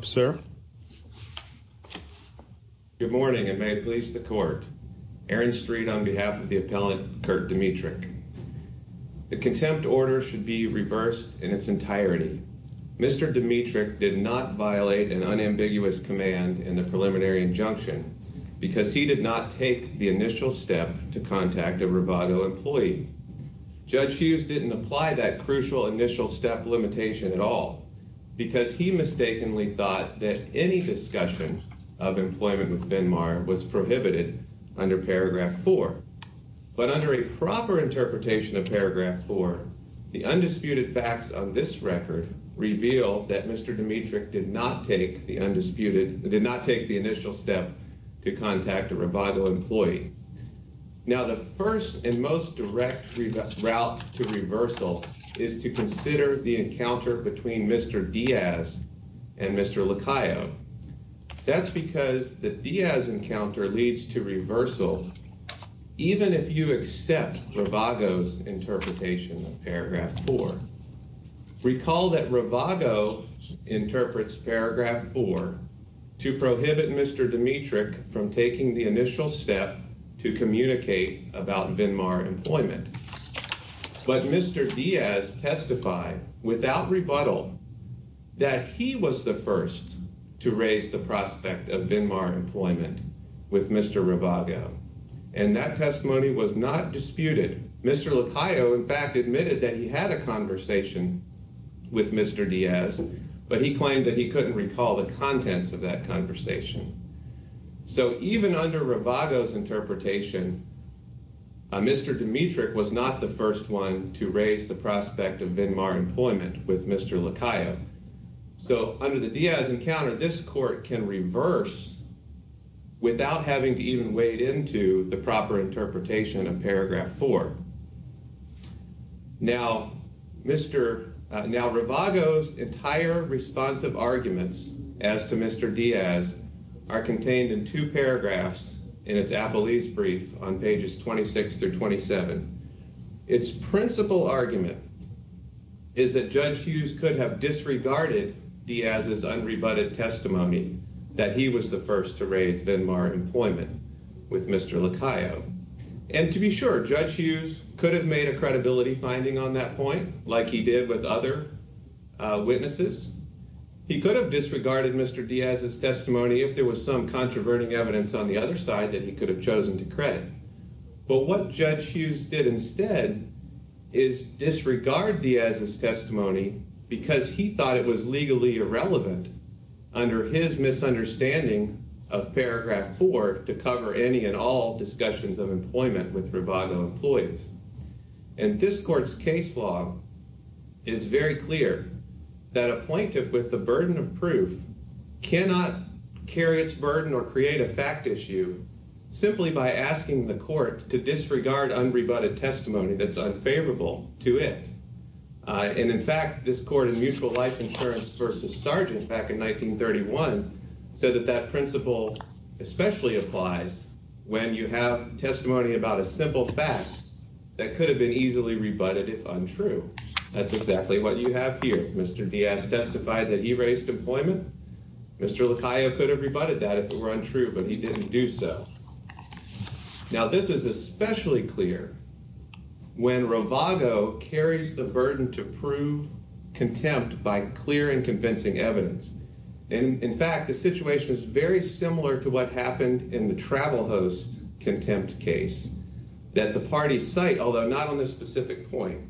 Good morning, and may it please the court. Aaron Street on behalf of the appellant, Kirk Dimitrick. The contempt order should be reversed in its entirety. Mr. Dimitrick did not violate an unambiguous command in the preliminary injunction because he did not take the initial step to contact a Ravago employee. Judge Hughes didn't apply that crucial initial step limitation at all because he mistakenly thought that any discussion of employment with Vinmar was prohibited under Paragraph 4. But under a proper interpretation of Paragraph 4, the undisputed facts of this record reveal that Mr. Dimitrick did not take the initial step to contact a Ravago employee. Now the first and most direct route to reversal is to consider the encounter between Mr. Diaz and Mr. Lacayo. That's because the Diaz encounter leads to reversal even if you accept Ravago's interpretation of Paragraph 4. Recall that Ravago interprets Paragraph 4 to prohibit Mr. Dimitrick from taking the initial step to communicate about Vinmar employment. But Mr. Diaz testified without rebuttal that he was the first to raise the prospect of Vinmar employment with Mr. Ravago. And that testimony was not disputed. Mr. Lacayo in fact admitted that he had a conversation with Mr. Diaz, but he claimed that he couldn't recall the contents of that conversation. So even under Ravago's interpretation, Mr. Dimitrick was not the first one to raise the prospect of Vinmar employment with Mr. Lacayo. So under the Diaz encounter, this court can reverse without having to even wade into the proper interpretation of Paragraph 4. Now, Ravago's entire responsive arguments as to Mr. Diaz are contained in two paragraphs in its appellee's brief on pages 26 through 27. Its principal argument is that Judge Hughes could have disregarded Diaz's unrebutted testimony that he was the first to raise Vinmar employment with Mr. Lacayo. And to be sure, Judge Hughes could have made a credibility finding on that point like he did with other witnesses. He could have disregarded Mr. Diaz's testimony if there was some controverting evidence on the other side that he could have chosen to credit. But what Judge Hughes did instead is disregard Diaz's testimony because he thought it was with Ravago employees. And this court's case law is very clear that a plaintiff with the burden of proof cannot carry its burden or create a fact issue simply by asking the court to disregard unrebutted testimony that's unfavorable to it. And in fact, this court in Mutual Life Insurance v. Sargent back in 1931 said that that principle especially applies when you have testimony about a simple fact that could have been easily rebutted if untrue. That's exactly what you have here. Mr. Diaz testified that he raised employment. Mr. Lacayo could have rebutted that if it were untrue, but he didn't do so. Now, this is especially clear when Ravago carries the burden to prove contempt by clear and convincing evidence. And in fact, the situation is very similar to what happened in the Travel Host Contempt case that the parties cite, although not on this specific point.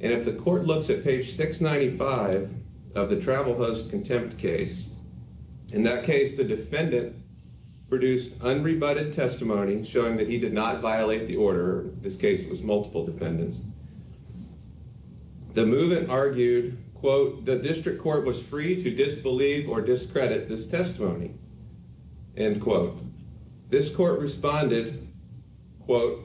And if the court looks at page 695 of the Travel Host Contempt case, in that case the defendant produced unrebutted testimony showing that he did not violate the order. This case was multiple defendants. The movement argued, quote, the district court was free to disbelieve or discredit this testimony. End quote. This court responded, quote,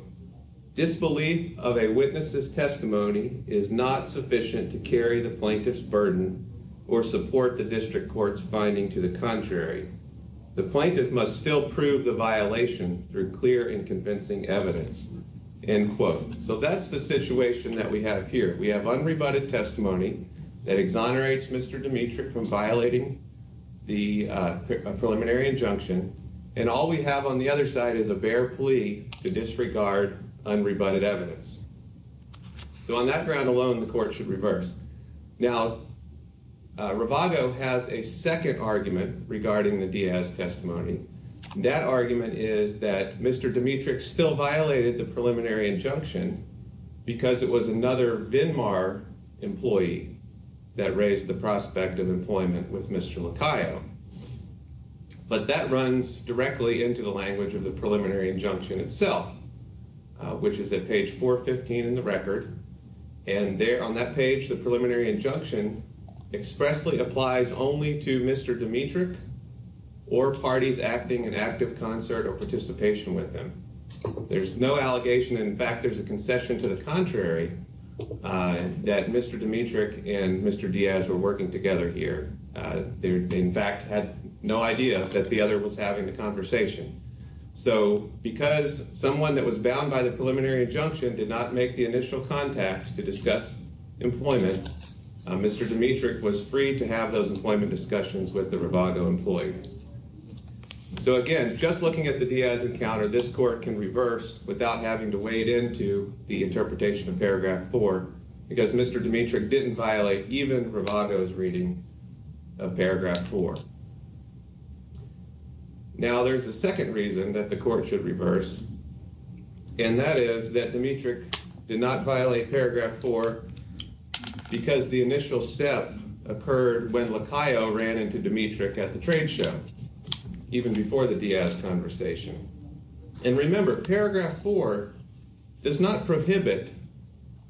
disbelief of a witness's testimony is not sufficient to carry the plaintiff's burden or support the district court's finding to the contrary. The plaintiff must still prove the violation through clear and convincing evidence. End quote. So that's the situation that we have here. We have unrebutted testimony that exonerates Mr. Dimitri from violating the preliminary injunction, and all we have on the other side is a bare plea to disregard unrebutted evidence. So on that ground alone, the court should reverse. Now, Ravago has a second argument regarding the Diaz testimony. That argument is that Mr. Dimitri still violated the preliminary injunction because it was another VINMAR employee that raised the prospect of employment with Mr. Licayo. But that runs directly into the language of the preliminary injunction itself, which is at page 415 in the record. And there on that page, the preliminary injunction expressly applies only to Mr. Dimitri or parties acting in active concert or participation with him. There's no allegation. In fact, there's a concession to the contrary that Mr. Dimitri and Mr. Diaz were working together here. They, in fact, had no idea that the other was having the conversation. So because someone that was bound by the preliminary injunction did not make the initial contact to discuss employment, Mr. Dimitri was free to have those employment discussions with the Ravago employee. So again, just looking at the Diaz encounter, this court can reverse without having to wade into the interpretation of paragraph 4 because Mr. Dimitri didn't violate even Ravago's reading of paragraph 4. Now, there's a second reason that the court should reverse, and that is that Dimitri did not violate paragraph 4 because the initial step occurred when Lacayo ran into Dimitri at the trade show, even before the Diaz conversation. And remember, paragraph 4 does not prohibit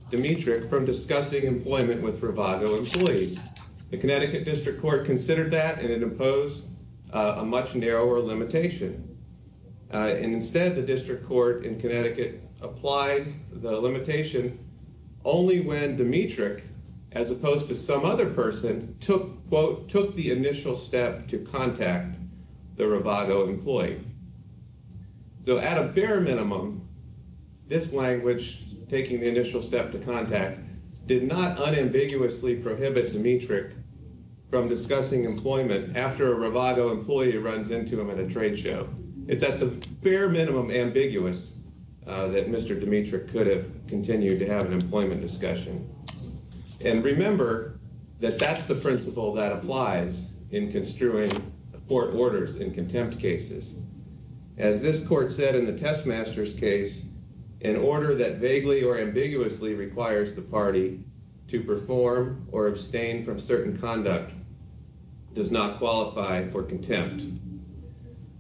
Dimitri from discussing employment with Ravago employees. The Connecticut District Court considered that, and it imposed a much narrower limitation. And instead, the District Court in Connecticut applied the limitation only when Dimitri, as opposed to some other person, took, quote, took the initial step to contact the Ravago employee. So at a bare minimum, this language, taking the initial step to contact, did not unambiguously prohibit Dimitri from discussing employment after a Ravago employee runs into him at a trade show. It's at the bare minimum ambiguous that Mr. Dimitri could have continued to have an employment discussion. And remember that that's the principle that applies in construing court orders in contempt cases. As this court said in the Testmaster's case, an order that vaguely or ambiguously requires the party to perform or abstain from certain conduct does not qualify for contempt.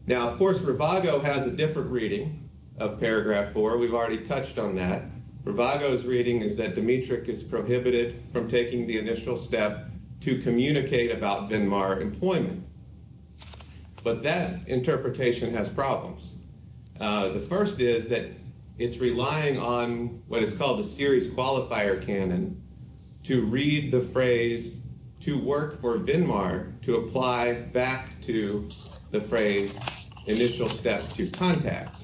Now, of course, Ravago has a different reading of paragraph 4. We've already touched on that. Ravago's reading is that Dimitri is prohibited from taking the initial step to communicate about Denmark employment. But that interpretation has problems. The first is that it's relying on what is called the series qualifier canon to read the phrase to work for Denmark to apply back to the phrase initial step to contact.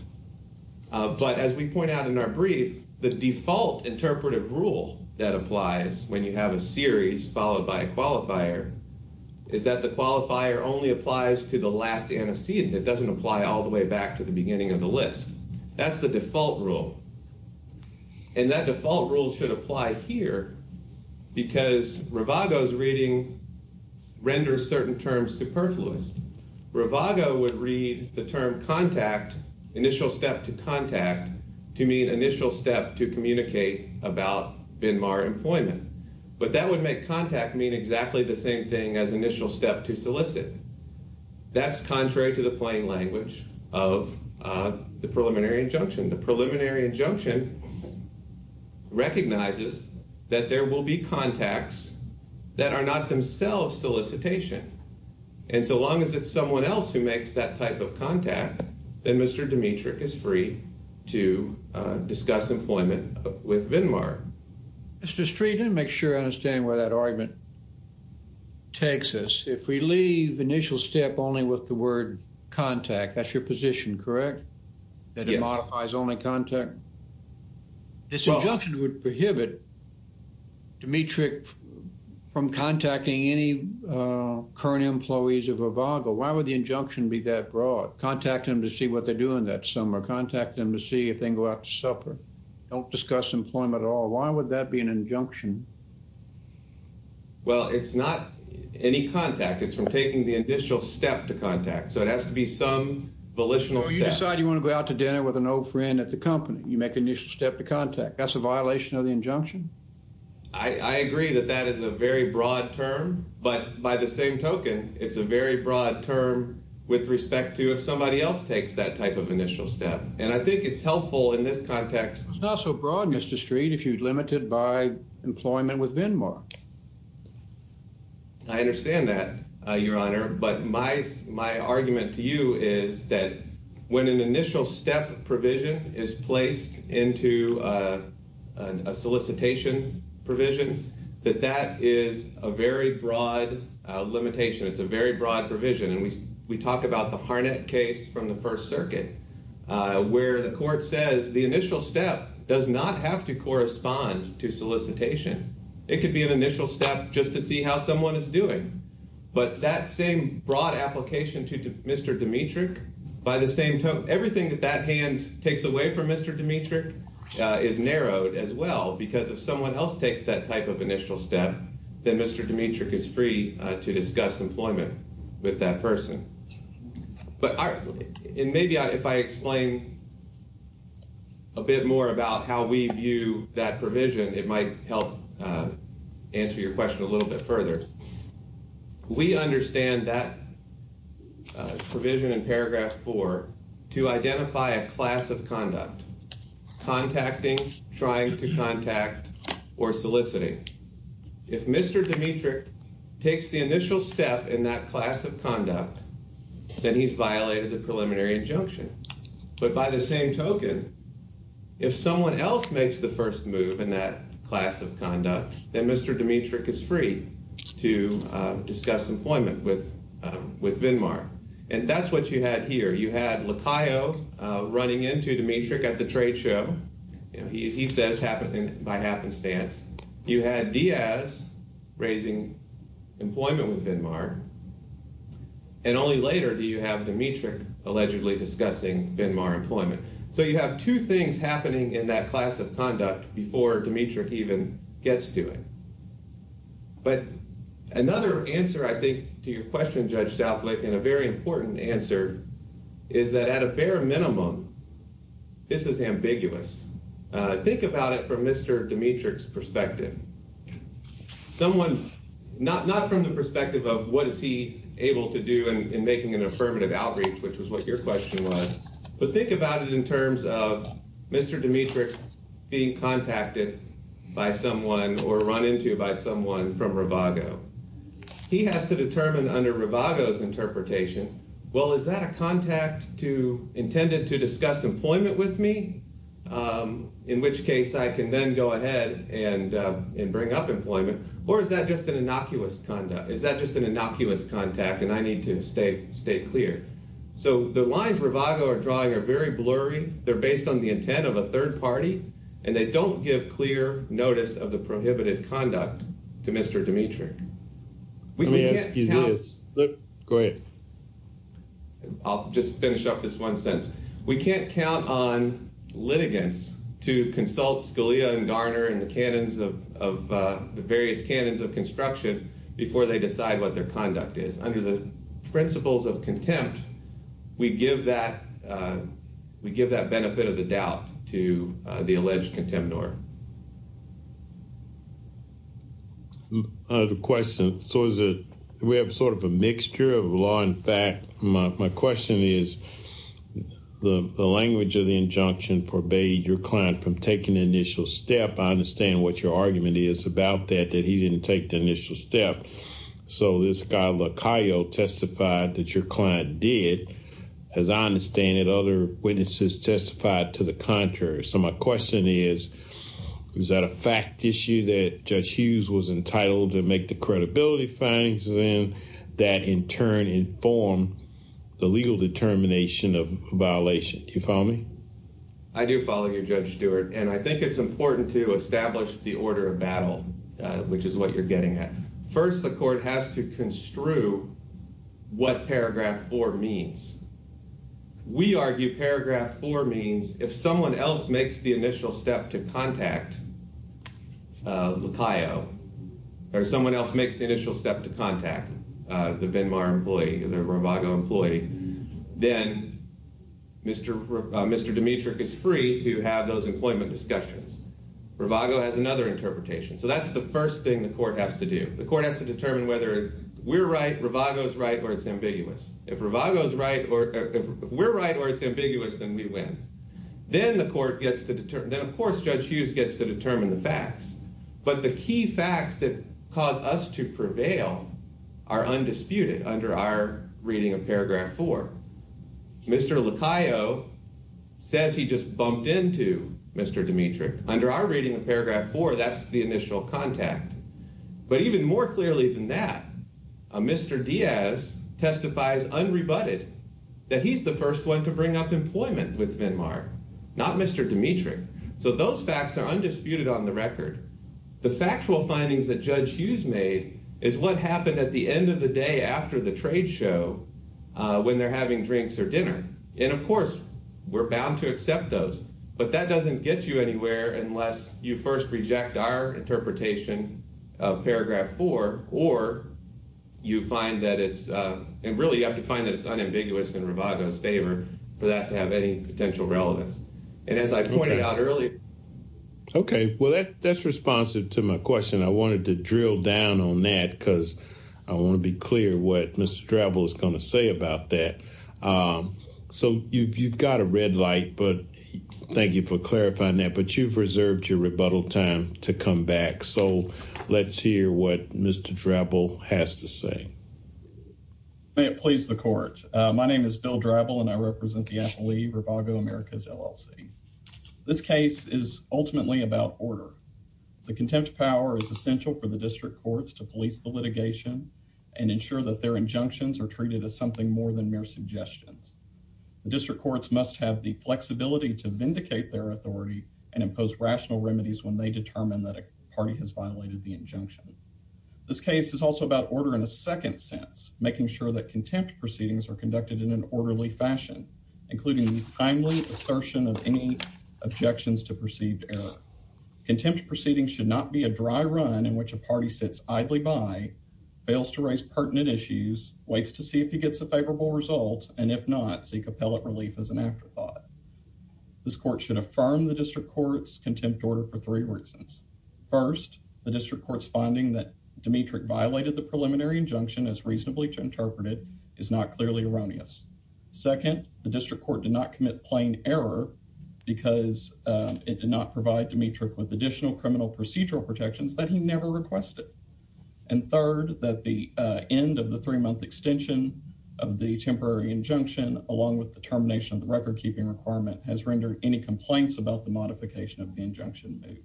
But as we point out in our brief, the default interpretive rule that applies when you have a series followed by a qualifier is that the qualifier only applies to the last antecedent. It doesn't apply all the way back to the beginning of the list. That's the default rule. And that default rule should apply here because Ravago's reading renders certain terms superfluous. Ravago would read the term contact, initial step to contact, to mean initial step to communicate about Denmark employment. But that would make contact mean exactly the same thing as initial step to solicit. That's contrary to the plain language of the preliminary injunction. The preliminary injunction recognizes that there will be contacts that are not themselves solicitation. And so long as it's someone else who makes that type of contact, then Mr. Dimitri is free to discuss employment with Denmark. Mr. Street, make sure I understand where that argument takes us. If we leave initial step only with the word contact, that's your position, correct? That it modifies only contact? This injunction would prohibit Dimitri from contacting any current employees of Ravago. Why would the injunction be that broad? Contact them to see what they're doing that summer. Contact them to see if they go out to supper. Why would that be an injunction? Well, it's not any contact. It's from taking the initial step to contact. So it has to be some volitional step. So you decide you want to go out to dinner with an old friend at the company. You make an initial step to contact. That's a violation of the injunction? I agree that that is a very broad term. But by the same token, it's a very broad term with respect to if somebody else takes that type of initial step. And I think it's helpful in this context. It's not so broad, Mr. Street, if you limit it by employment with Venmark. I understand that, Your Honor. But my argument to you is that when an initial step provision is placed into a solicitation provision, that that is a very broad limitation. It's a very broad provision. And we talk about the Harnett case from the First Circuit, where the court says the initial step does not have to correspond to solicitation. It could be an initial step just to see how someone is doing. But that same broad application to Mr. Dmitrich, by the same token, everything that that hand takes away from Mr. Dmitrich is narrowed as well. Because if someone else takes that type of initial step, then Mr. Dmitrich is free to discuss employment with that person. But maybe if I explain a bit more about how we view that provision, it might help answer your question a little bit further. We understand that provision in paragraph 4 to identify a class of conduct, contacting, trying to contact, or soliciting. If Mr. Dmitrich takes the initial step in that class of conduct, then he's violated the preliminary injunction. But by the same token, if someone else makes the first move in that class of conduct, then Mr. Dmitrich is free to discuss employment with VINMAR. And that's what you had here. You had Lacayo running into Dmitrich at the trade show. He says by happenstance. You had Diaz raising employment with VINMAR. And only later do you have Dmitrich allegedly discussing VINMAR employment. So you have two things happening in that class of conduct before Dmitrich even gets to it. But another answer, I think, to your question, Judge Southlick, and a very important answer, is that at a bare minimum, this is ambiguous. Think about it from Mr. Dmitrich's perspective. Someone, not from the perspective of what is he able to do in making an affirmative outreach, which was what your question was, but think about it in terms of Mr. Dmitrich being contacted by someone or run into by someone from Rivago. He has to determine under Rivago's interpretation, well, is that a contact intended to discuss employment with me, in which case I can then go ahead and bring up employment, or is that just an innocuous conduct? Is that just an innocuous contact, and I need to stay clear? So the lines Rivago are drawing are very blurry. They're based on the intent of a third party, and they don't give clear notice of the prohibited conduct to Mr. Dmitrich. Let me ask you this. Go ahead. I'll just finish up this one sentence. We can't count on litigants to consult Scalia and Garner and the various canons of construction before they decide what their conduct is. Under the principles of contempt, we give that benefit of the doubt to the alleged contemporary. I have a question. So we have sort of a mixture of law and fact. My question is the language of the injunction forbade your client from taking the initial step. I understand what your argument is about that, that he didn't take the initial step. So this guy LaCaio testified that your client did. As I understand it, other witnesses testified to the contrary. So my question is, is that a fact issue that Judge Hughes was entitled to make the credibility findings in that in turn inform the legal determination of a violation? Do you follow me? I do follow you, Judge Stewart, and I think it's important to establish the order of battle, which is what you're getting at. First, the court has to construe what Paragraph 4 means. We argue Paragraph 4 means if someone else makes the initial step to contact LaCaio, or someone else makes the initial step to contact the Venmar employee, the Rivago employee, then Mr. Dimitric is free to have those employment discussions. Rivago has another interpretation. So that's the first thing the court has to do. The court has to determine whether we're right, Rivago's right, or it's ambiguous. If we're right or it's ambiguous, then we win. Then, of course, Judge Hughes gets to determine the facts. But the key facts that cause us to prevail are undisputed under our reading of Paragraph 4. Mr. LaCaio says he just bumped into Mr. Dimitric. Under our reading of Paragraph 4, that's the initial contact. But even more clearly than that, Mr. Diaz testifies unrebutted that he's the first one to bring up employment with Venmar, not Mr. Dimitric. So those facts are undisputed on the record. The factual findings that Judge Hughes made is what happened at the end of the day after the trade show when they're having drinks or dinner. And, of course, we're bound to accept those. But that doesn't get you anywhere unless you first reject our interpretation of Paragraph 4. Or you find that it's – and really you have to find that it's unambiguous in Rivago's favor for that to have any potential relevance. And as I pointed out earlier – Okay. Well, that's responsive to my question. I wanted to drill down on that because I want to be clear what Mr. Drabble is going to say about that. So you've got a red light, but thank you for clarifying that. But you've reserved your rebuttal time to come back. So let's hear what Mr. Drabble has to say. May it please the Court. My name is Bill Drabble, and I represent the affilee Rivago Americas LLC. This case is ultimately about order. The contempt power is essential for the district courts to police the litigation and ensure that their injunctions are treated as something more than mere suggestions. The district courts must have the flexibility to vindicate their authority and impose rational remedies when they determine that a party has violated the injunction. This case is also about order in a second sense, making sure that contempt proceedings are conducted in an orderly fashion, including timely assertion of any objections to perceived error. Contempt proceedings should not be a dry run in which a party sits idly by, fails to raise pertinent issues, waits to see if he gets a favorable result, and if not, seek appellate relief as an afterthought. This court should affirm the district court's contempt order for three reasons. First, the district court's finding that Dmitryk violated the preliminary injunction as reasonably interpreted is not clearly erroneous. Second, the district court did not commit plain error because it did not provide Dmitryk with additional criminal procedural protections that he never requested. And third, that the end of the three-month extension of the temporary injunction, along with the termination of the record-keeping requirement, has rendered any complaints about the modification of the injunction moot.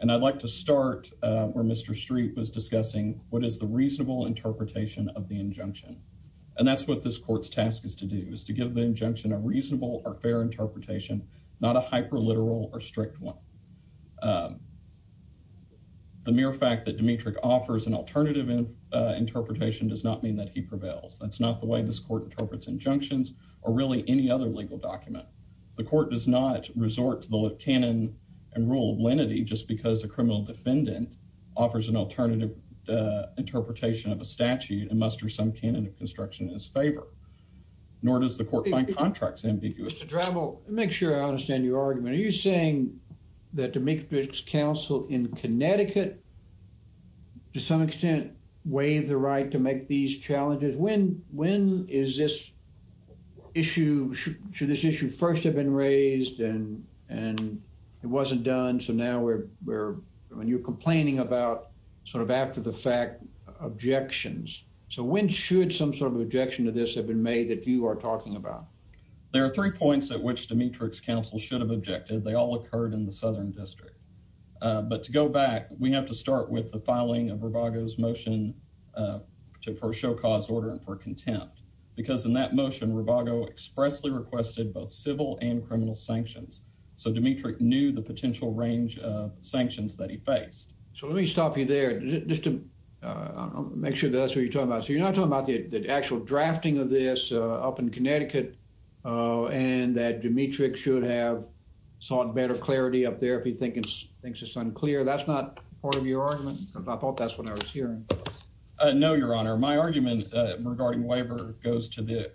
And I'd like to start where Mr. Streep was discussing what is the reasonable interpretation of the injunction. And that's what this court's task is to do, is to give the injunction a reasonable or fair interpretation, not a hyper-literal or strict one. The mere fact that Dmitryk offers an alternative interpretation does not mean that he prevails. That's not the way this court interprets injunctions or really any other legal document. The court does not resort to the canon and rule of lenity just because a criminal defendant offers an alternative interpretation of a statute and muster some canon of construction in his favor. Nor does the court find contracts ambiguous. Mr. Drebel, to make sure I understand your argument, are you saying that Dmitryk's counsel in Connecticut, to some extent, waived the right to make these challenges? When is this issue, should this issue first have been raised and it wasn't done, so now we're, I mean, you're complaining about sort of after-the-fact objections. So when should some sort of objection to this have been made that you are talking about? There are three points at which Dmitryk's counsel should have objected. They all occurred in the Southern District. But to go back, we have to start with the filing of Rivago's motion for a show-cause order and for contempt, because in that motion, Rivago expressly requested both civil and criminal sanctions, so Dmitryk knew the potential range of sanctions that he faced. So let me stop you there. Just to make sure that's what you're talking about. So you're not talking about the actual drafting of this up in Connecticut and that Dmitryk should have sought better clarity up there if he thinks it's unclear. That's not part of your argument? I thought that's what I was hearing. No, Your Honor. My argument regarding waiver goes to the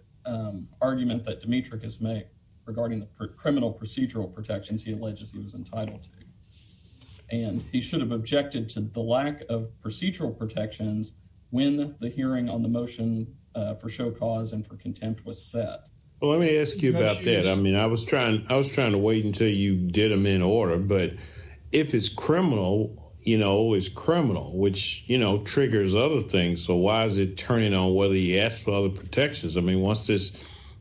argument that Dmitryk has made regarding the criminal procedural protections he alleges he was entitled to. And he should have objected to the lack of procedural protections when the hearing on the motion for show-cause and for contempt was set. Well, let me ask you about that. I mean, I was trying to wait until you did them in order, but if it's criminal, you know, it's criminal, which, you know, triggers other things. So why is it turning on whether he asked for other protections? I mean, once it's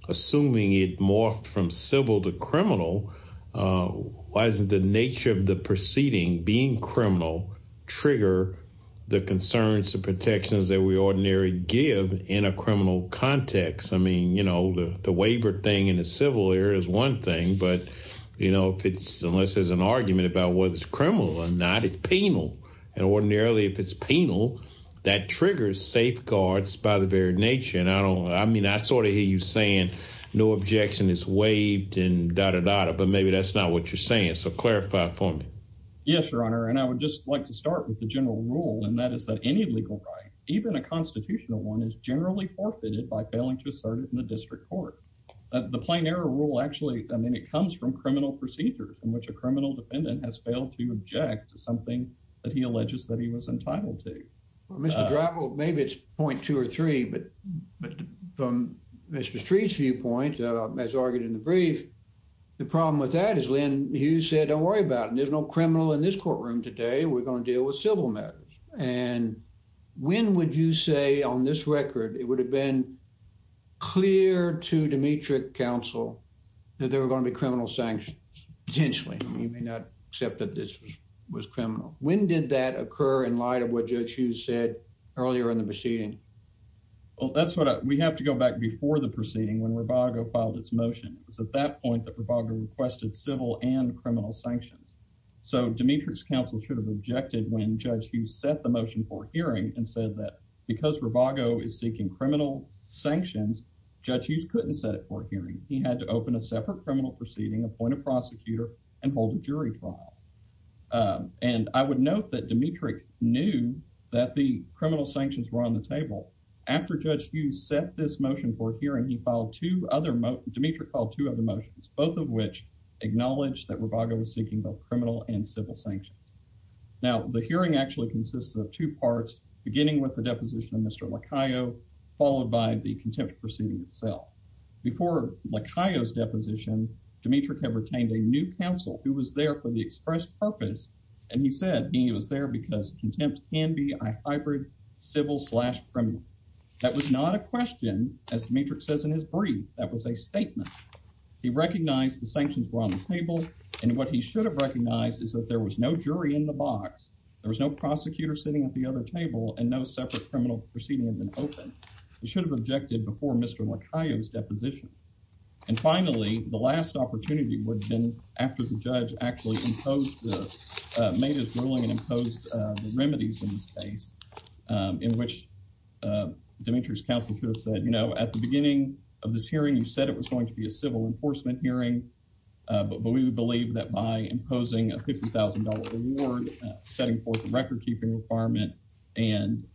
assuming it morphed from civil to criminal, why doesn't the nature of the proceeding being criminal trigger the concerns and protections that we ordinarily give in a criminal context? I mean, you know, the waiver thing in the civil area is one thing, but, you know, unless there's an argument about whether it's criminal or not, it's penal, and ordinarily if it's penal, that triggers safeguards by the very nature. I mean, I sort of hear you saying no objection is waived and da-da-da-da, but maybe that's not what you're saying, so clarify for me. Yes, Your Honor, and I would just like to start with the general rule, and that is that any legal right, even a constitutional one, is generally forfeited by failing to assert it in the district court. The plain error rule actually, I mean, it comes from criminal procedures in which a criminal defendant has failed to object to something that he alleges that he was entitled to. Well, Mr. Drabble, maybe it's point two or three, but from Mr. Street's viewpoint, as argued in the brief, the problem with that is, Len, you said don't worry about it, there's no criminal in this courtroom today, we're going to deal with civil matters, and when would you say on this record it would have been clear to Demetric Counsel that there were going to be criminal sanctions, potentially, you may not accept that this was criminal. When did that occur in light of what Judge Hughes said earlier in the proceeding? Well, that's what I, we have to go back before the proceeding when Robago filed its motion. It was at that point that Robago requested civil and criminal sanctions. So, Demetric's counsel should have objected when Judge Hughes set the motion for hearing and said that because Robago is seeking criminal sanctions, Judge Hughes couldn't set it for a hearing. He had to open a separate criminal proceeding, appoint a prosecutor, and hold a jury trial. And I would note that Demetric knew that the criminal sanctions were on the table. After Judge Hughes set this motion for hearing, he filed two other motions, Demetric filed two other motions, both of which acknowledge that Robago was seeking both criminal and civil sanctions. Now, the hearing actually consists of two parts, beginning with the deposition of Mr. Lacayo, followed by the contempt proceeding itself. Before Lacayo's deposition, Demetric had retained a new counsel who was there for the express purpose, and he said he was there because contempt can be a hybrid civil slash criminal. That was not a question, as Demetric says in his brief, that was a statement. He recognized the sanctions were on the table, and what he should have recognized is that there was no jury in the box, there was no prosecutor sitting at the other table, and no separate criminal proceeding had been opened. He should have objected before Mr. Lacayo's deposition. And finally, the last opportunity would have been after the judge actually made his ruling and imposed the remedies in this case, in which Demetric's counsel should have said, you know, at the beginning of this hearing, you said it was going to be a civil enforcement hearing, but we believe that by imposing a $50,000 reward, setting forth a record-keeping requirement, and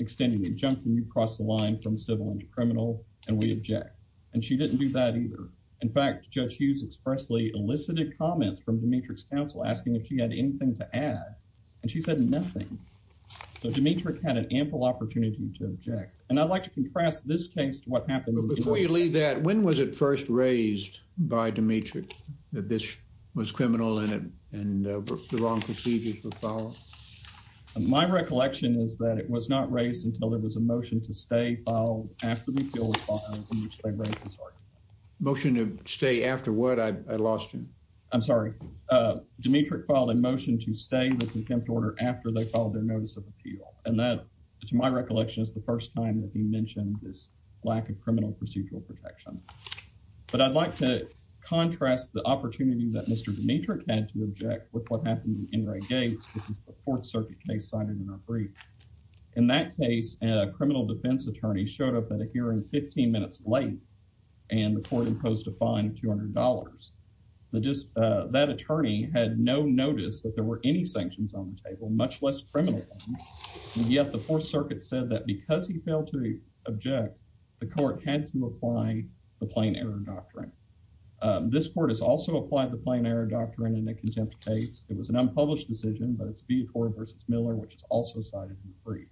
extending the injunction, you cross the line from civil and criminal, and we object. And she didn't do that either. In fact, Judge Hughes expressly elicited comments from Demetric's counsel asking if she had anything to add, and she said nothing. So Demetric had an ample opportunity to object. And I'd like to contrast this case to what happened. But before you leave that, when was it first raised by Demetric that this was criminal and the wrong procedures were followed? My recollection is that it was not raised until there was a motion to stay filed after the appeal was filed in which they raised this argument. Motion to stay after what? I lost you. I'm sorry. Demetric filed a motion to stay the contempt order after they filed their notice of appeal. And that, to my recollection, is the first time that he mentioned this lack of criminal procedural protections. But I'd like to contrast the opportunity that Mr. Demetric had to object with what happened in Enright Gates, which is the Fourth Circuit case cited in our brief. In that case, a criminal defense attorney showed up at a hearing 15 minutes late, and the court imposed a fine of $200. That attorney had no notice that there were any sanctions on the table, much less criminal ones. And yet the Fourth Circuit said that because he failed to object, the court had to apply the plain error doctrine. This court has also applied the plain error doctrine in a contempt case. It was an unpublished decision, but it's Viator v. Miller, which is also cited in the brief.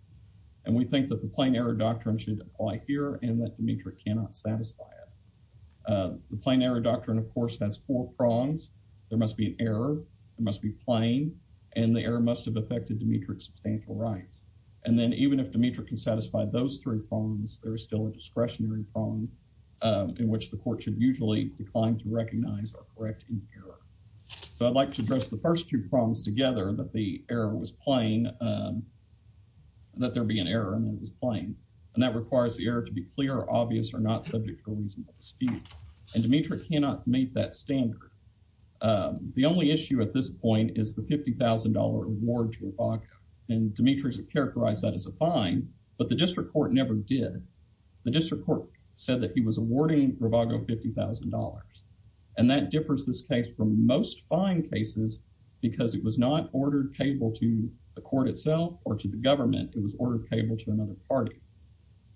And we think that the plain error doctrine should apply here and that Demetric cannot satisfy it. The plain error doctrine, of course, has four prongs. There must be an error, it must be plain, and the error must have affected Demetric's substantial rights. And then even if Demetric can satisfy those three prongs, there is still a discretionary prong in which the court should usually decline to recognize or correct any error. So I'd like to address the first two prongs together, that the error was plain, that there be an error and that it was plain. And that requires the error to be clear, obvious, or not subject to a reasonable dispute. And Demetric cannot meet that standard. The only issue at this point is the $50,000 reward to Ibaka, and Demetric has characterized that as a fine, but the district court never did. The district court said that he was awarding Ibaka $50,000, and that differs this case from most fine cases because it was not ordered payable to the court itself or to the government. It was ordered payable to another party.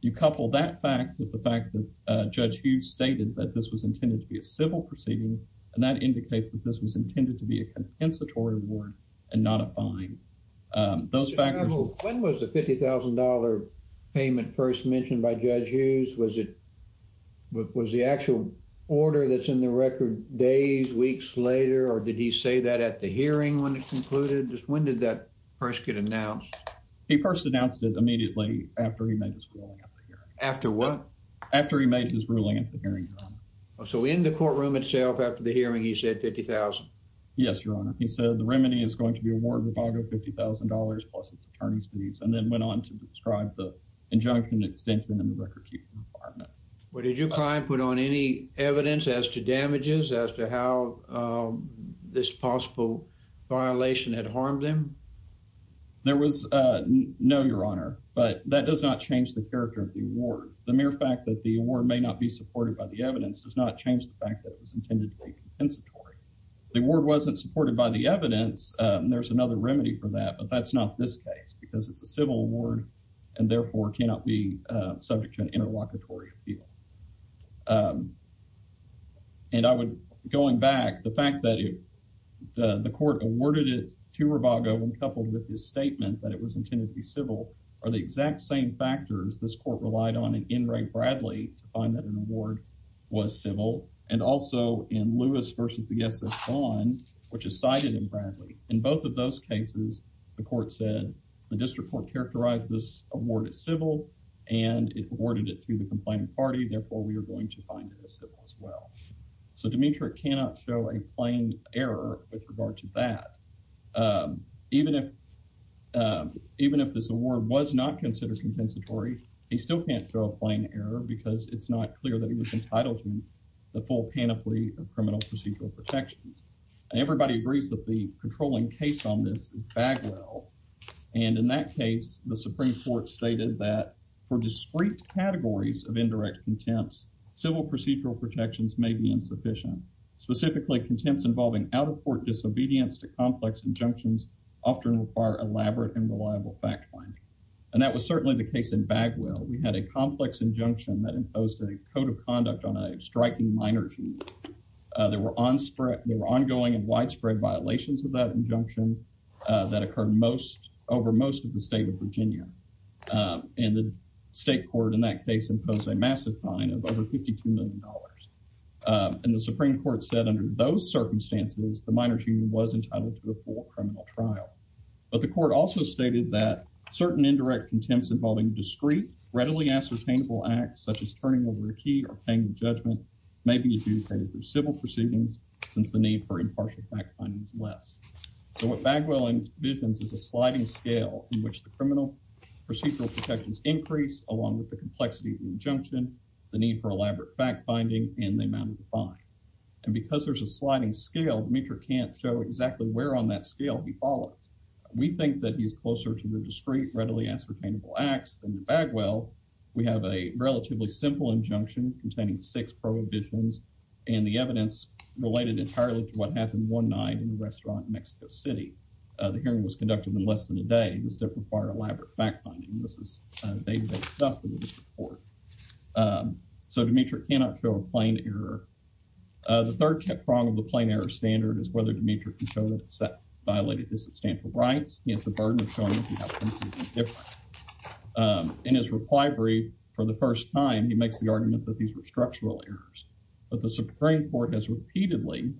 You couple that fact with the fact that Judge Hughes stated that this was intended to be a civil proceeding, and that indicates that this was intended to be a compensatory reward and not a fine. Those factors... When was the $50,000 payment first mentioned by Judge Hughes? Was it... Was the actual order that's in the record days, weeks later, or did he say that at the hearing when it concluded? When did that first get announced? He first announced it immediately after he made his ruling at the hearing. After what? After he made his ruling at the hearing, Your Honor. So in the courtroom itself, after the hearing, he said $50,000? Yes, Your Honor. He said the remedy is going to be award Ibaka $50,000, plus its attorney's fees, and then went on to describe the injunction extension in the record-keeping environment. Well, did your client put on any evidence as to damages, as to how this possible violation had harmed him? There was no, Your Honor, but that does not change the character of the award. The mere fact that the award may not be supported by the evidence does not change the fact that it was intended to be compensatory. The award wasn't supported by the evidence, and there's another remedy for that, but that's not this case because it's a civil award and therefore cannot be subject to an interlocutory appeal. And I would, going back, the fact that the court awarded it to Ibaka when coupled with his statement that it was intended to be civil are the exact same factors this court relied on in Enright Bradley to find that an award was civil, and also in Lewis versus the SS Vaughn, which is cited in Bradley. In both of those cases, the court said, the district court characterized this award as civil, and it awarded it to the complaining party, therefore we are going to find it as civil as well. So Demetri cannot show a plain error with regard to that. Even if this award was not considered compensatory, he still can't show a plain error because it's not clear that he was entitled to the full panoply of criminal procedural protections. And everybody agrees that the controlling case on this is Bagwell, and in that case, the Supreme Court stated that, for discrete categories of indirect contempts, civil procedural protections may be insufficient. Specifically, contempts involving out-of-court disobedience to complex injunctions often require elaborate and reliable fact-finding. And that was certainly the case in Bagwell. We had a complex injunction that imposed a code of conduct on a striking minor's union. There were ongoing and widespread violations of that injunction that occurred over most of the state of Virginia. And the state court in that case imposed a massive fine of over $52 million. And the Supreme Court said under those circumstances, the minor's union was entitled to the full criminal trial. But the court also stated that certain indirect contempts involving discrete, readily ascertainable acts, such as turning over a key or paying judgment may be adjudicated through civil proceedings since the need for impartial fact-finding is less. So what Bagwell envisions is a sliding scale in which the criminal procedural protections increase along with the complexity of the injunction, the need for elaborate fact-finding, and the amount of the fine. And because there's a sliding scale, Mitra can't show exactly where on that scale he follows. We think that he's closer to the discrete, readily ascertainable acts, than Bagwell. We have a relatively simple injunction containing six prohibitions, and the evidence related entirely to what happened one night in a restaurant in Mexico City. The hearing was conducted in less than a day. This did require elaborate fact-finding. This is day-to-day stuff in this report. So Dmitry cannot show a plain error. The third prong of the plain error standard is whether Dmitry can show that it's violated his substantial rights. He has the burden of showing that he has them. He's different. In his reply brief, for the first time, he makes the argument that these were structural errors. But the Supreme Court has repeatedly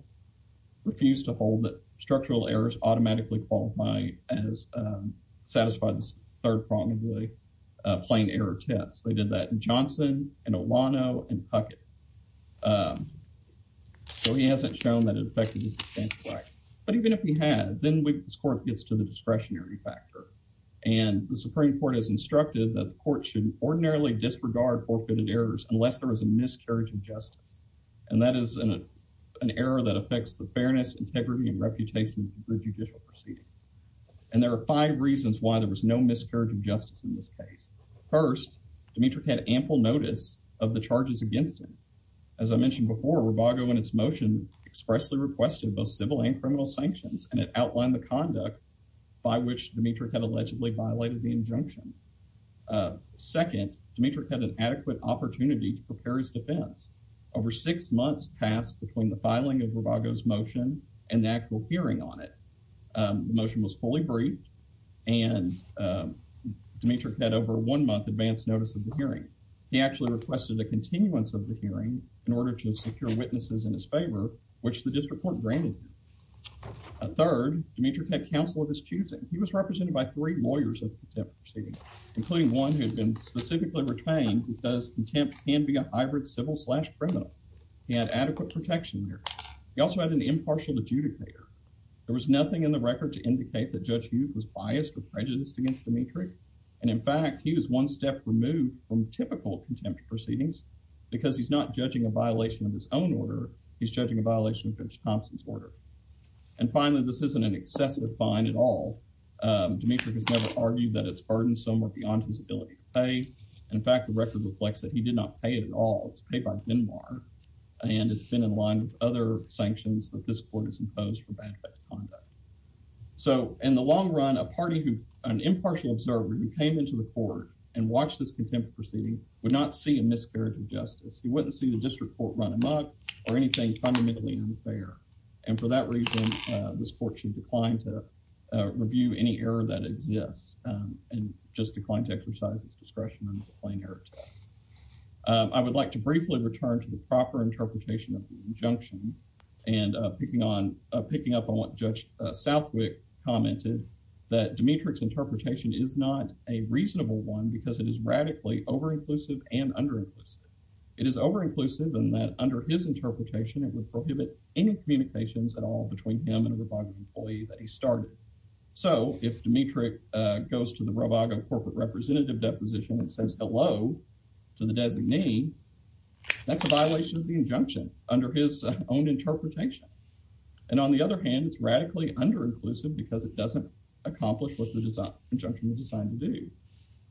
refused to hold that structural errors automatically qualify as satisfied third prong of the plain error test. They did that in Johnson, in Olano, and Puckett. So he hasn't shown that it affected his substantial rights. But even if he had, then this court gets to the discretionary factor. And the Supreme Court has instructed that the court should ordinarily disregard forfeited errors unless there is a miscarriage of justice. And that is an error that affects the fairness, integrity, and reputation of the judicial proceedings. And there are five reasons why there was no miscarriage of justice in this case. First, Dmitry had ample notice of the charges against him. As I mentioned before, Rubago in its motion expressly requested both civil and criminal sanctions. And it outlined the conduct by which Dmitry had allegedly violated the injunction. Second, Dmitry had an adequate opportunity to prepare his defense. Over six months passed between the filing of Rubago's motion and the actual hearing on it. The motion was fully briefed. And Dmitry had over one month advance notice of the hearing. He actually requested a continuance of the hearing in order to secure witnesses in his favor, which the district court granted him. Third, Dmitry had counsel of his choosing. He was represented by three lawyers of the contempt proceeding, including one who had been specifically retained because contempt can be a hybrid civil slash criminal. He had adequate protection there. He also had an impartial adjudicator. There was nothing in the record to indicate that Judge Youth was biased or prejudiced against Dmitry. And in fact, he was one step removed from typical contempt proceedings because he's not judging a violation of his own order. He's judging a violation of Judge Thompson's order. And finally, this isn't an excessive fine at all. Dmitry has never argued that it's burdensome or beyond his ability to pay. In fact, the record reflects that he did not pay it at all. It was paid by Denmark. And it's been in line with other sanctions that this court has imposed for bad conduct. So in the long run, an impartial observer who came into the court and he would not see a miscarriage of justice. He wouldn't see the district court run amok or anything fundamentally unfair. And for that reason, this court should decline to review any error that exists and just decline to exercise its discretion under the plain error test. I would like to briefly return to the proper interpretation of the injunction and picking up on what Judge Southwick commented, that Dmitry's interpretation is not a reasonable one because it is over-inclusive and under-inclusive. It is over-inclusive in that under his interpretation, it would prohibit any communications at all between him and a Robago employee that he started. So if Dmitry goes to the Robago corporate representative deposition and says hello to the designee, that's a violation of the injunction under his own interpretation. And on the other hand, it's radically under-inclusive because it doesn't accomplish what the injunction was designed to do.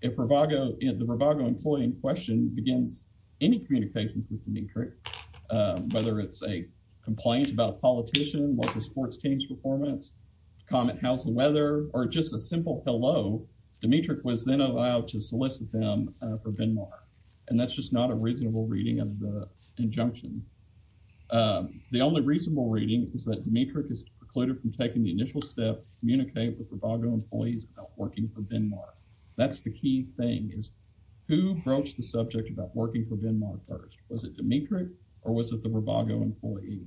If Robago, if the Robago employee in question begins any communications with Dmitry, whether it's a complaint about a politician, local sports team's performance, comment, how's the weather, or just a simple hello, Dmitry was then allowed to solicit them for Benmar. And that's just not a reasonable reading of the injunction. The only reasonable reading is that Dmitry is precluded from taking the initial step, communicate with Robago employees about working for Benmar. That's the key thing, is who broached the subject about working for Benmar first? Was it Dmitry or was it the Robago employee?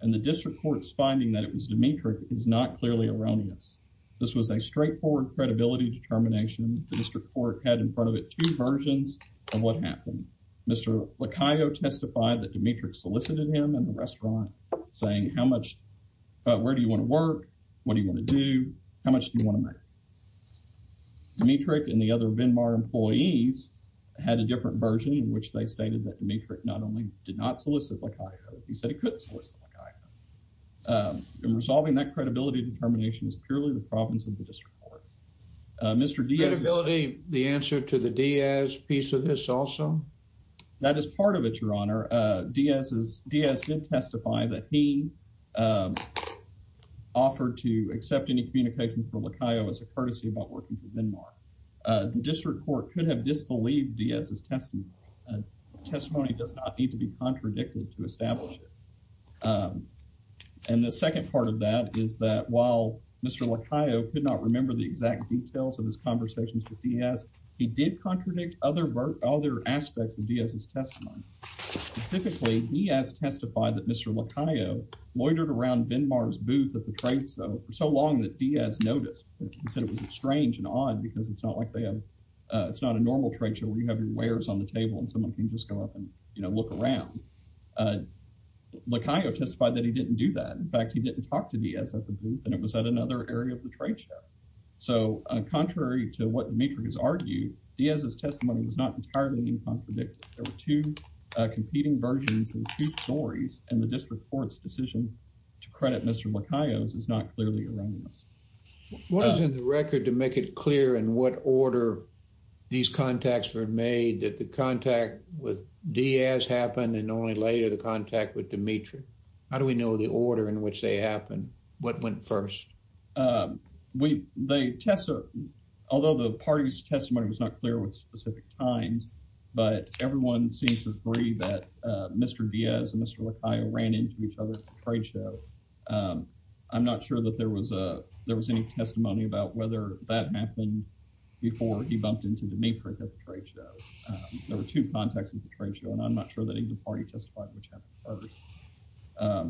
And the district court's finding that it was Dmitry is not clearly erroneous. This was a straightforward credibility determination. The district court had in front of it two versions of what happened. Mr. Lacayo testified that Dmitry solicited him in the restaurant, saying how much, where do you want to work, what do you want to do, how much do you want to make? Dmitry and the other Benmar employees had a different version in which they stated that Dmitry not only did not solicit Lacayo, he said he couldn't solicit Lacayo. And resolving that credibility determination is purely the province of the district court. Mr. Diaz. Credibility, the answer to the Diaz piece of this also? That is part of it, Your Honor. Diaz did testify that he offered to accept any communications for Lacayo as a courtesy about working for Benmar. The district court could have disbelieved Diaz's testimony. A testimony does not need to be contradicted to establish it. And the second part of that is that while Mr. Lacayo could not remember the exact details of his conversations with Diaz, he did contradict other aspects of Diaz's testimony. Specifically, Diaz testified that Mr. Lacayo loitered around Benmar's booth at the trade show for so long that Diaz noticed. He said it was strange and odd because it's not like they have, it's not a normal trade show where you have your wares on the table and someone can just go up and, you know, look around. Lacayo testified that he didn't do that. In fact, he didn't talk to Diaz at the booth and it was at another area of the trade show. So contrary to what Dmitry has argued, Diaz's testimony was not entirely incontradictory. There were two competing versions and two stories and the district court's decision to credit Mr. Lacayo's is not clearly around this. What is in the record to make it clear in what order these contacts were made? Did the contact with Diaz happen and only later the contact with Dmitry? How do we know the order in which they happened? What went first? We, they tested, although the party's testimony was not clear with specific times, but everyone seems to agree that Mr. Diaz and Mr. Lacayo ran into each other at the trade show. I'm not sure that there was a, there was any testimony about whether that happened before he bumped into Dmitry at the trade show. There were two contacts at the trade show and I'm not sure that either party testified which happened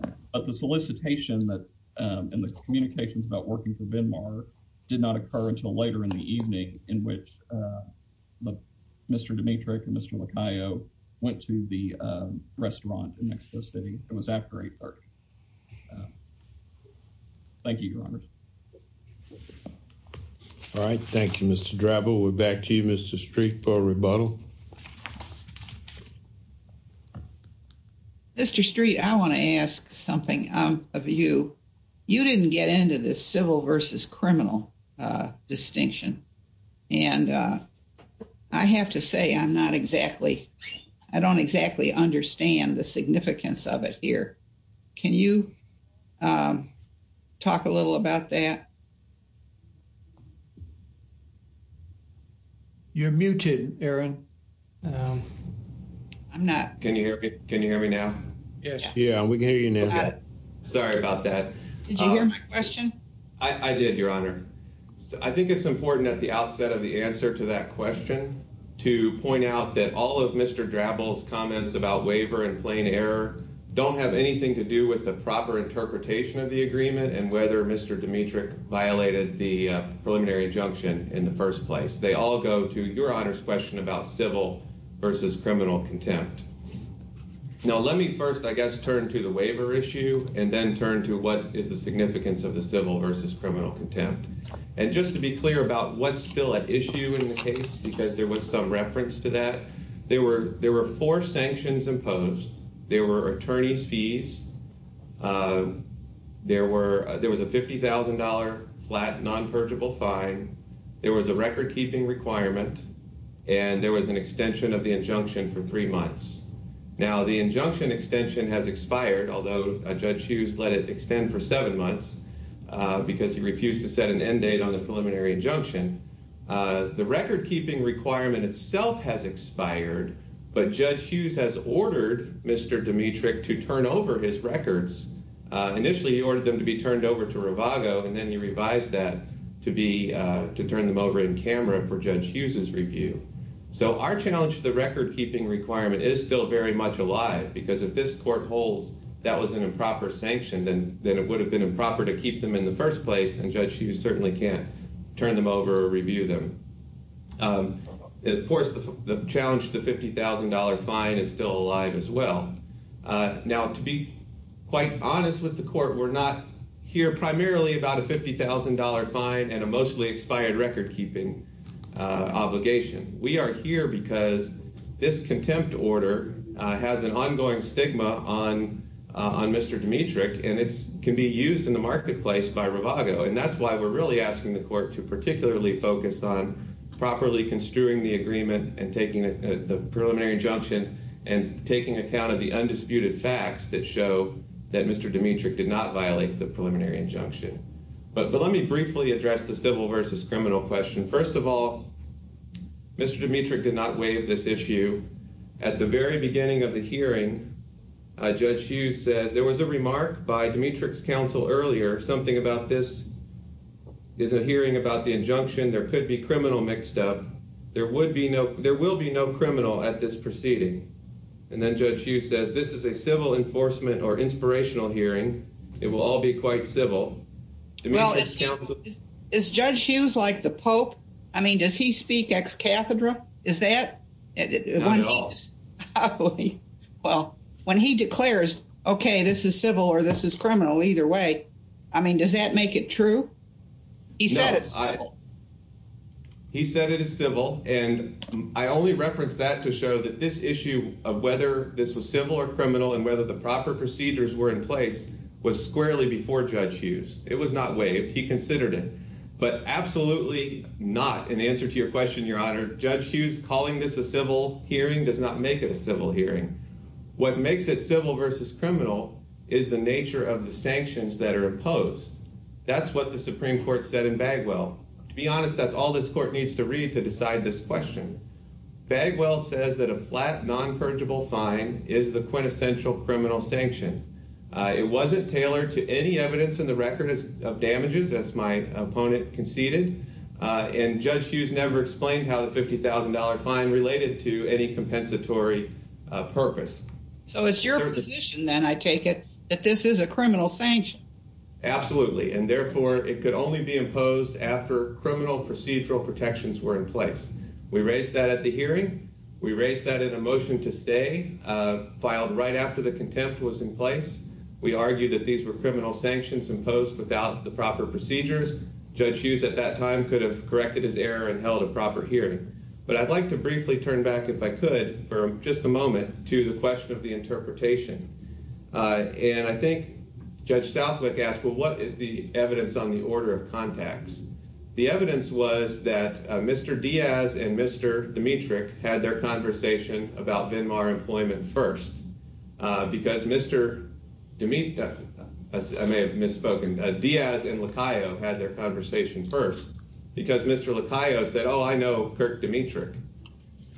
first. But the solicitation that, and the communications about working for Venmar did not occur until later in the evening in which Mr. Dmitry and Mr. Lacayo went to the restaurant next to the city. It was after 830. Thank you, Your Honor. All right. Thank you, Mr. Drabble. We're back to you, Mr. Street, for a rebuttal. Mr. Street, I want to ask something of you. You didn't get into this civil versus criminal distinction. And I have to say I'm not exactly, I don't exactly understand the significance of it here. Can you talk a little about that? You're muted, Aaron. I'm not. Can you hear me now? Yes. Yeah, we can hear you now. Sorry about that. Did you hear my question? I did, Your Honor. I think it's important at the outset of the answer to that question to point out that all of Mr. Drabble's comments about waiver and plain error don't have anything to do with the proper interpretation of the agreement and whether Mr. Demetric violated the preliminary injunction in the first place. They all go to Your Honor's question about civil versus criminal contempt. Now, let me first, I guess, turn to the waiver issue and then turn to what is the significance of the civil versus criminal contempt. And just to be clear about what's still at issue in the case, because there was some reference to that, there were four sanctions imposed. There were attorney's fees. There was a $50,000 flat non-purgable fine. There was a record-keeping requirement. And there was an extension of the injunction for three months. Now, the injunction extension has expired, although Judge Hughes let it extend for seven months because he refused to set an end date on the preliminary injunction. The record-keeping requirement itself has expired, but Judge Hughes has kept his records. Initially, he ordered them to be turned over to Rivago, and then he revised that to turn them over in camera for Judge Hughes's review. So our challenge to the record-keeping requirement is still very much alive because if this court holds that was an improper sanction, then it would have been improper to keep them in the first place, and Judge Hughes certainly can't turn them over or review them. Of course, the challenge to the $50,000 fine is still alive as well. Now, to be quite honest with the court, we're not here primarily about a $50,000 fine and a mostly expired record-keeping obligation. We are here because this contempt order has an ongoing stigma on Mr. Dmitrich, and it can be used in the marketplace by Rivago, and that's why we're really asking the court to particularly focus on properly construing the agreement and taking the preliminary injunction and taking account of the undisputed facts that show that Mr. Dmitrich did not violate the preliminary injunction. But let me briefly address the civil versus criminal question. First of all, Mr. Dmitrich did not waive this issue. At the very beginning of the hearing, Judge Hughes says, there was a remark by Dmitrich's counsel earlier. Something about this is a hearing about the injunction. There could be criminal mixed up. There will be no criminal at this proceeding. And then Judge Hughes says, this is a civil enforcement or inspirational hearing. It will all be quite civil. Well, is Judge Hughes like the Pope? I mean, does he speak ex cathedra? Is that? Not at all. Well, when he declares, okay, this is civil or this is criminal, either way, I mean, does that make it true? He said it's civil. He said it is civil. And I only referenced that to show that this issue of whether this was civil or criminal and whether the proper procedures were in place was squarely before Judge Hughes. It was not waived. He considered it. But absolutely not, in answer to your question, Your Honor, Judge Hughes calling this a civil hearing does not make it a civil hearing. What makes it civil versus criminal is the nature of the sanctions that are imposed. That's what the Supreme Court said in Bagwell. To be honest, that's all this court needs to read to decide this question. Bagwell says that a flat, non-credible fine is the quintessential criminal sanction. It wasn't tailored to any evidence in the record of damages, as my opponent conceded. And Judge Hughes never explained how the $50,000 fine related to any compensatory purpose. So it's your position, then, I take it, that this is a criminal sanction. Absolutely. And, therefore, it could only be imposed after criminal procedural protections were in place. We raised that at the hearing. We raised that in a motion to stay, filed right after the contempt was in place. We argued that these were criminal sanctions imposed without the proper procedures. Judge Hughes at that time could have corrected his error and held a proper hearing. But I'd like to briefly turn back, if I could, for just a moment, to the question of the interpretation. And I think Judge Southwick asked, well, what is the evidence on the order of contacts? The evidence was that Mr. Diaz and Mr. Dimitric had their conversation about Venmar employment first. Because Mr. Dimitri, I may have misspoken, Diaz and Lacayo had their conversation first. Because Mr. Lacayo said, oh, I know Kirk Dimitric.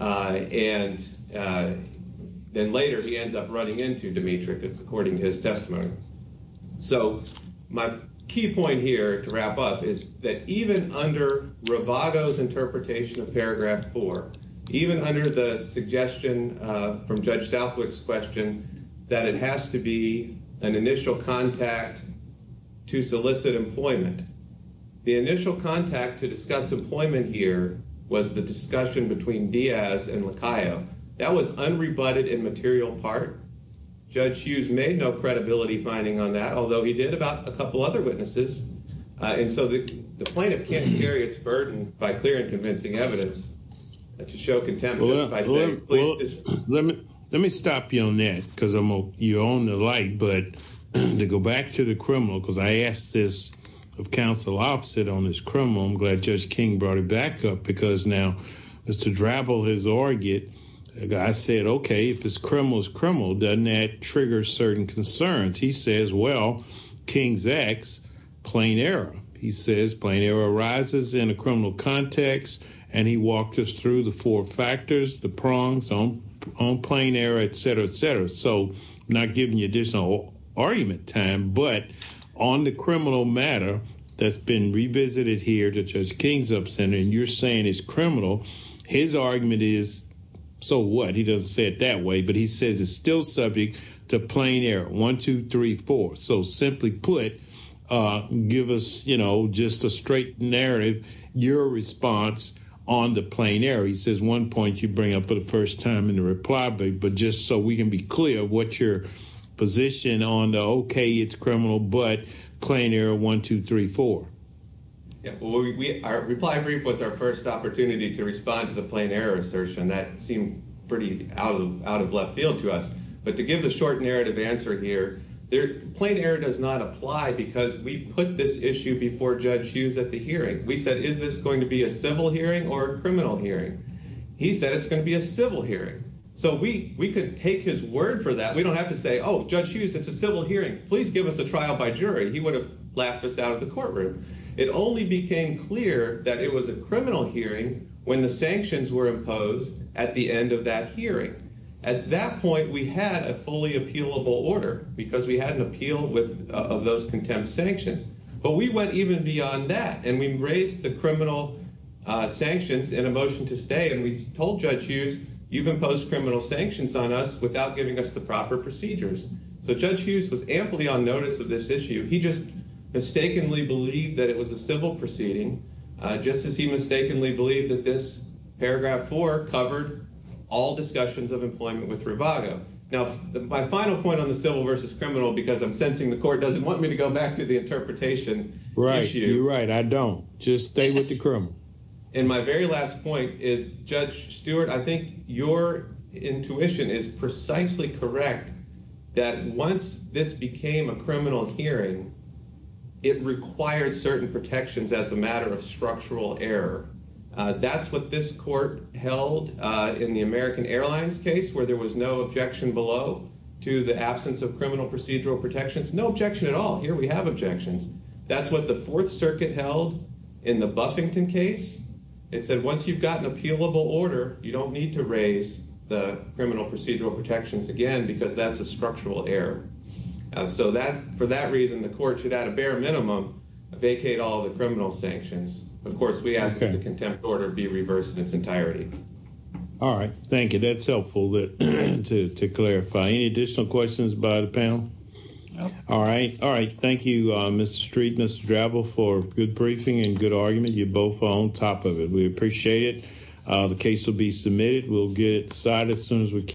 And then later he ends up running into Dimitric, according to his testimony. So my key point here, to wrap up, is that even under Ravago's interpretation of paragraph four, even under the suggestion from Judge Southwick's question, that it has to be an initial contact to solicit employment. The initial contact to discuss employment here was the discussion between Diaz and Lacayo. That was unrebutted and material part. Judge Hughes made no credibility finding on that, although he did about a couple other witnesses. And so the plaintiff can't carry its burden by clear and convincing evidence to show contempt. Let me stop you on that, because you're on the light. But to go back to the criminal, because I asked this of counsel opposite on this criminal, I'm glad Judge King brought it back up. Because now, as to drabble his argument, I said, okay, if this criminal is criminal, doesn't that trigger certain concerns? He says, well, King's ex, plain error. He says plain error arises in a criminal context. And he walked us through the four factors, the prongs on plain error, et cetera, et cetera. So not giving you additional argument time, but on the criminal matter that's been revisited here to Judge King's upstanding, you're saying it's criminal. His argument is, so what? He doesn't say it that way, but he says it's still subject to plain error. One, two, three, four. So simply put, give us just a straight narrative, your response on the plain error. He says one point you bring up for the first time in the reply, but just so we can be clear, what's your position on the okay, it's criminal, but plain error, one, two, three, four. Our reply brief was our first opportunity to respond to the plain error assertion. That seemed pretty out of left field to us. But to give the short narrative answer here, plain error does not apply because we put this issue before Judge Hughes at the hearing. We said, is this going to be a civil hearing or a criminal hearing? He said it's going to be a civil hearing. So we could take his word for that. We don't have to say, oh, Judge Hughes, it's a civil hearing. Please give us a trial by jury. He would have laughed us out of the courtroom. It only became clear that it was a criminal hearing when the sanctions were imposed at the end of that hearing. At that point we had a fully appealable order because we had an appeal of those contempt sanctions. But we went even beyond that and we raised the criminal sanctions in a way that would impose criminal sanctions on us without giving us the proper procedures. So Judge Hughes was amply on notice of this issue. He just mistakenly believed that it was a civil proceeding, just as he mistakenly believed that this paragraph four covered all discussions of employment with Rivaga. Now, my final point on the civil versus criminal, because I'm sensing the court doesn't want me to go back to the interpretation issue. Right. You're right. I don't. Just stay with the criminal. And my very last point is Judge Stewart. I think your intuition is precisely correct that once this became a criminal hearing, it required certain protections as a matter of structural error. That's what this court held in the American Airlines case where there was no objection below to the absence of criminal procedural protections. No objection at all. Here we have objections. That's what the fourth circuit held in the Buffington case. It said, once you've got an appealable order, you don't need to raise the criminal procedural protections again, because that's a structural error. So that for that reason, the court should at a bare minimum vacate all the criminal sanctions. Of course, we ask that the contempt order be reversed in its entirety. All right. Thank you. That's helpful to clarify. Any additional questions by the panel? All right. All right. Thank you. Mr. Streetness travel for good briefing and good argument. You both on top of it. We appreciate it. The case will be submitted. We'll get side as soon as we can.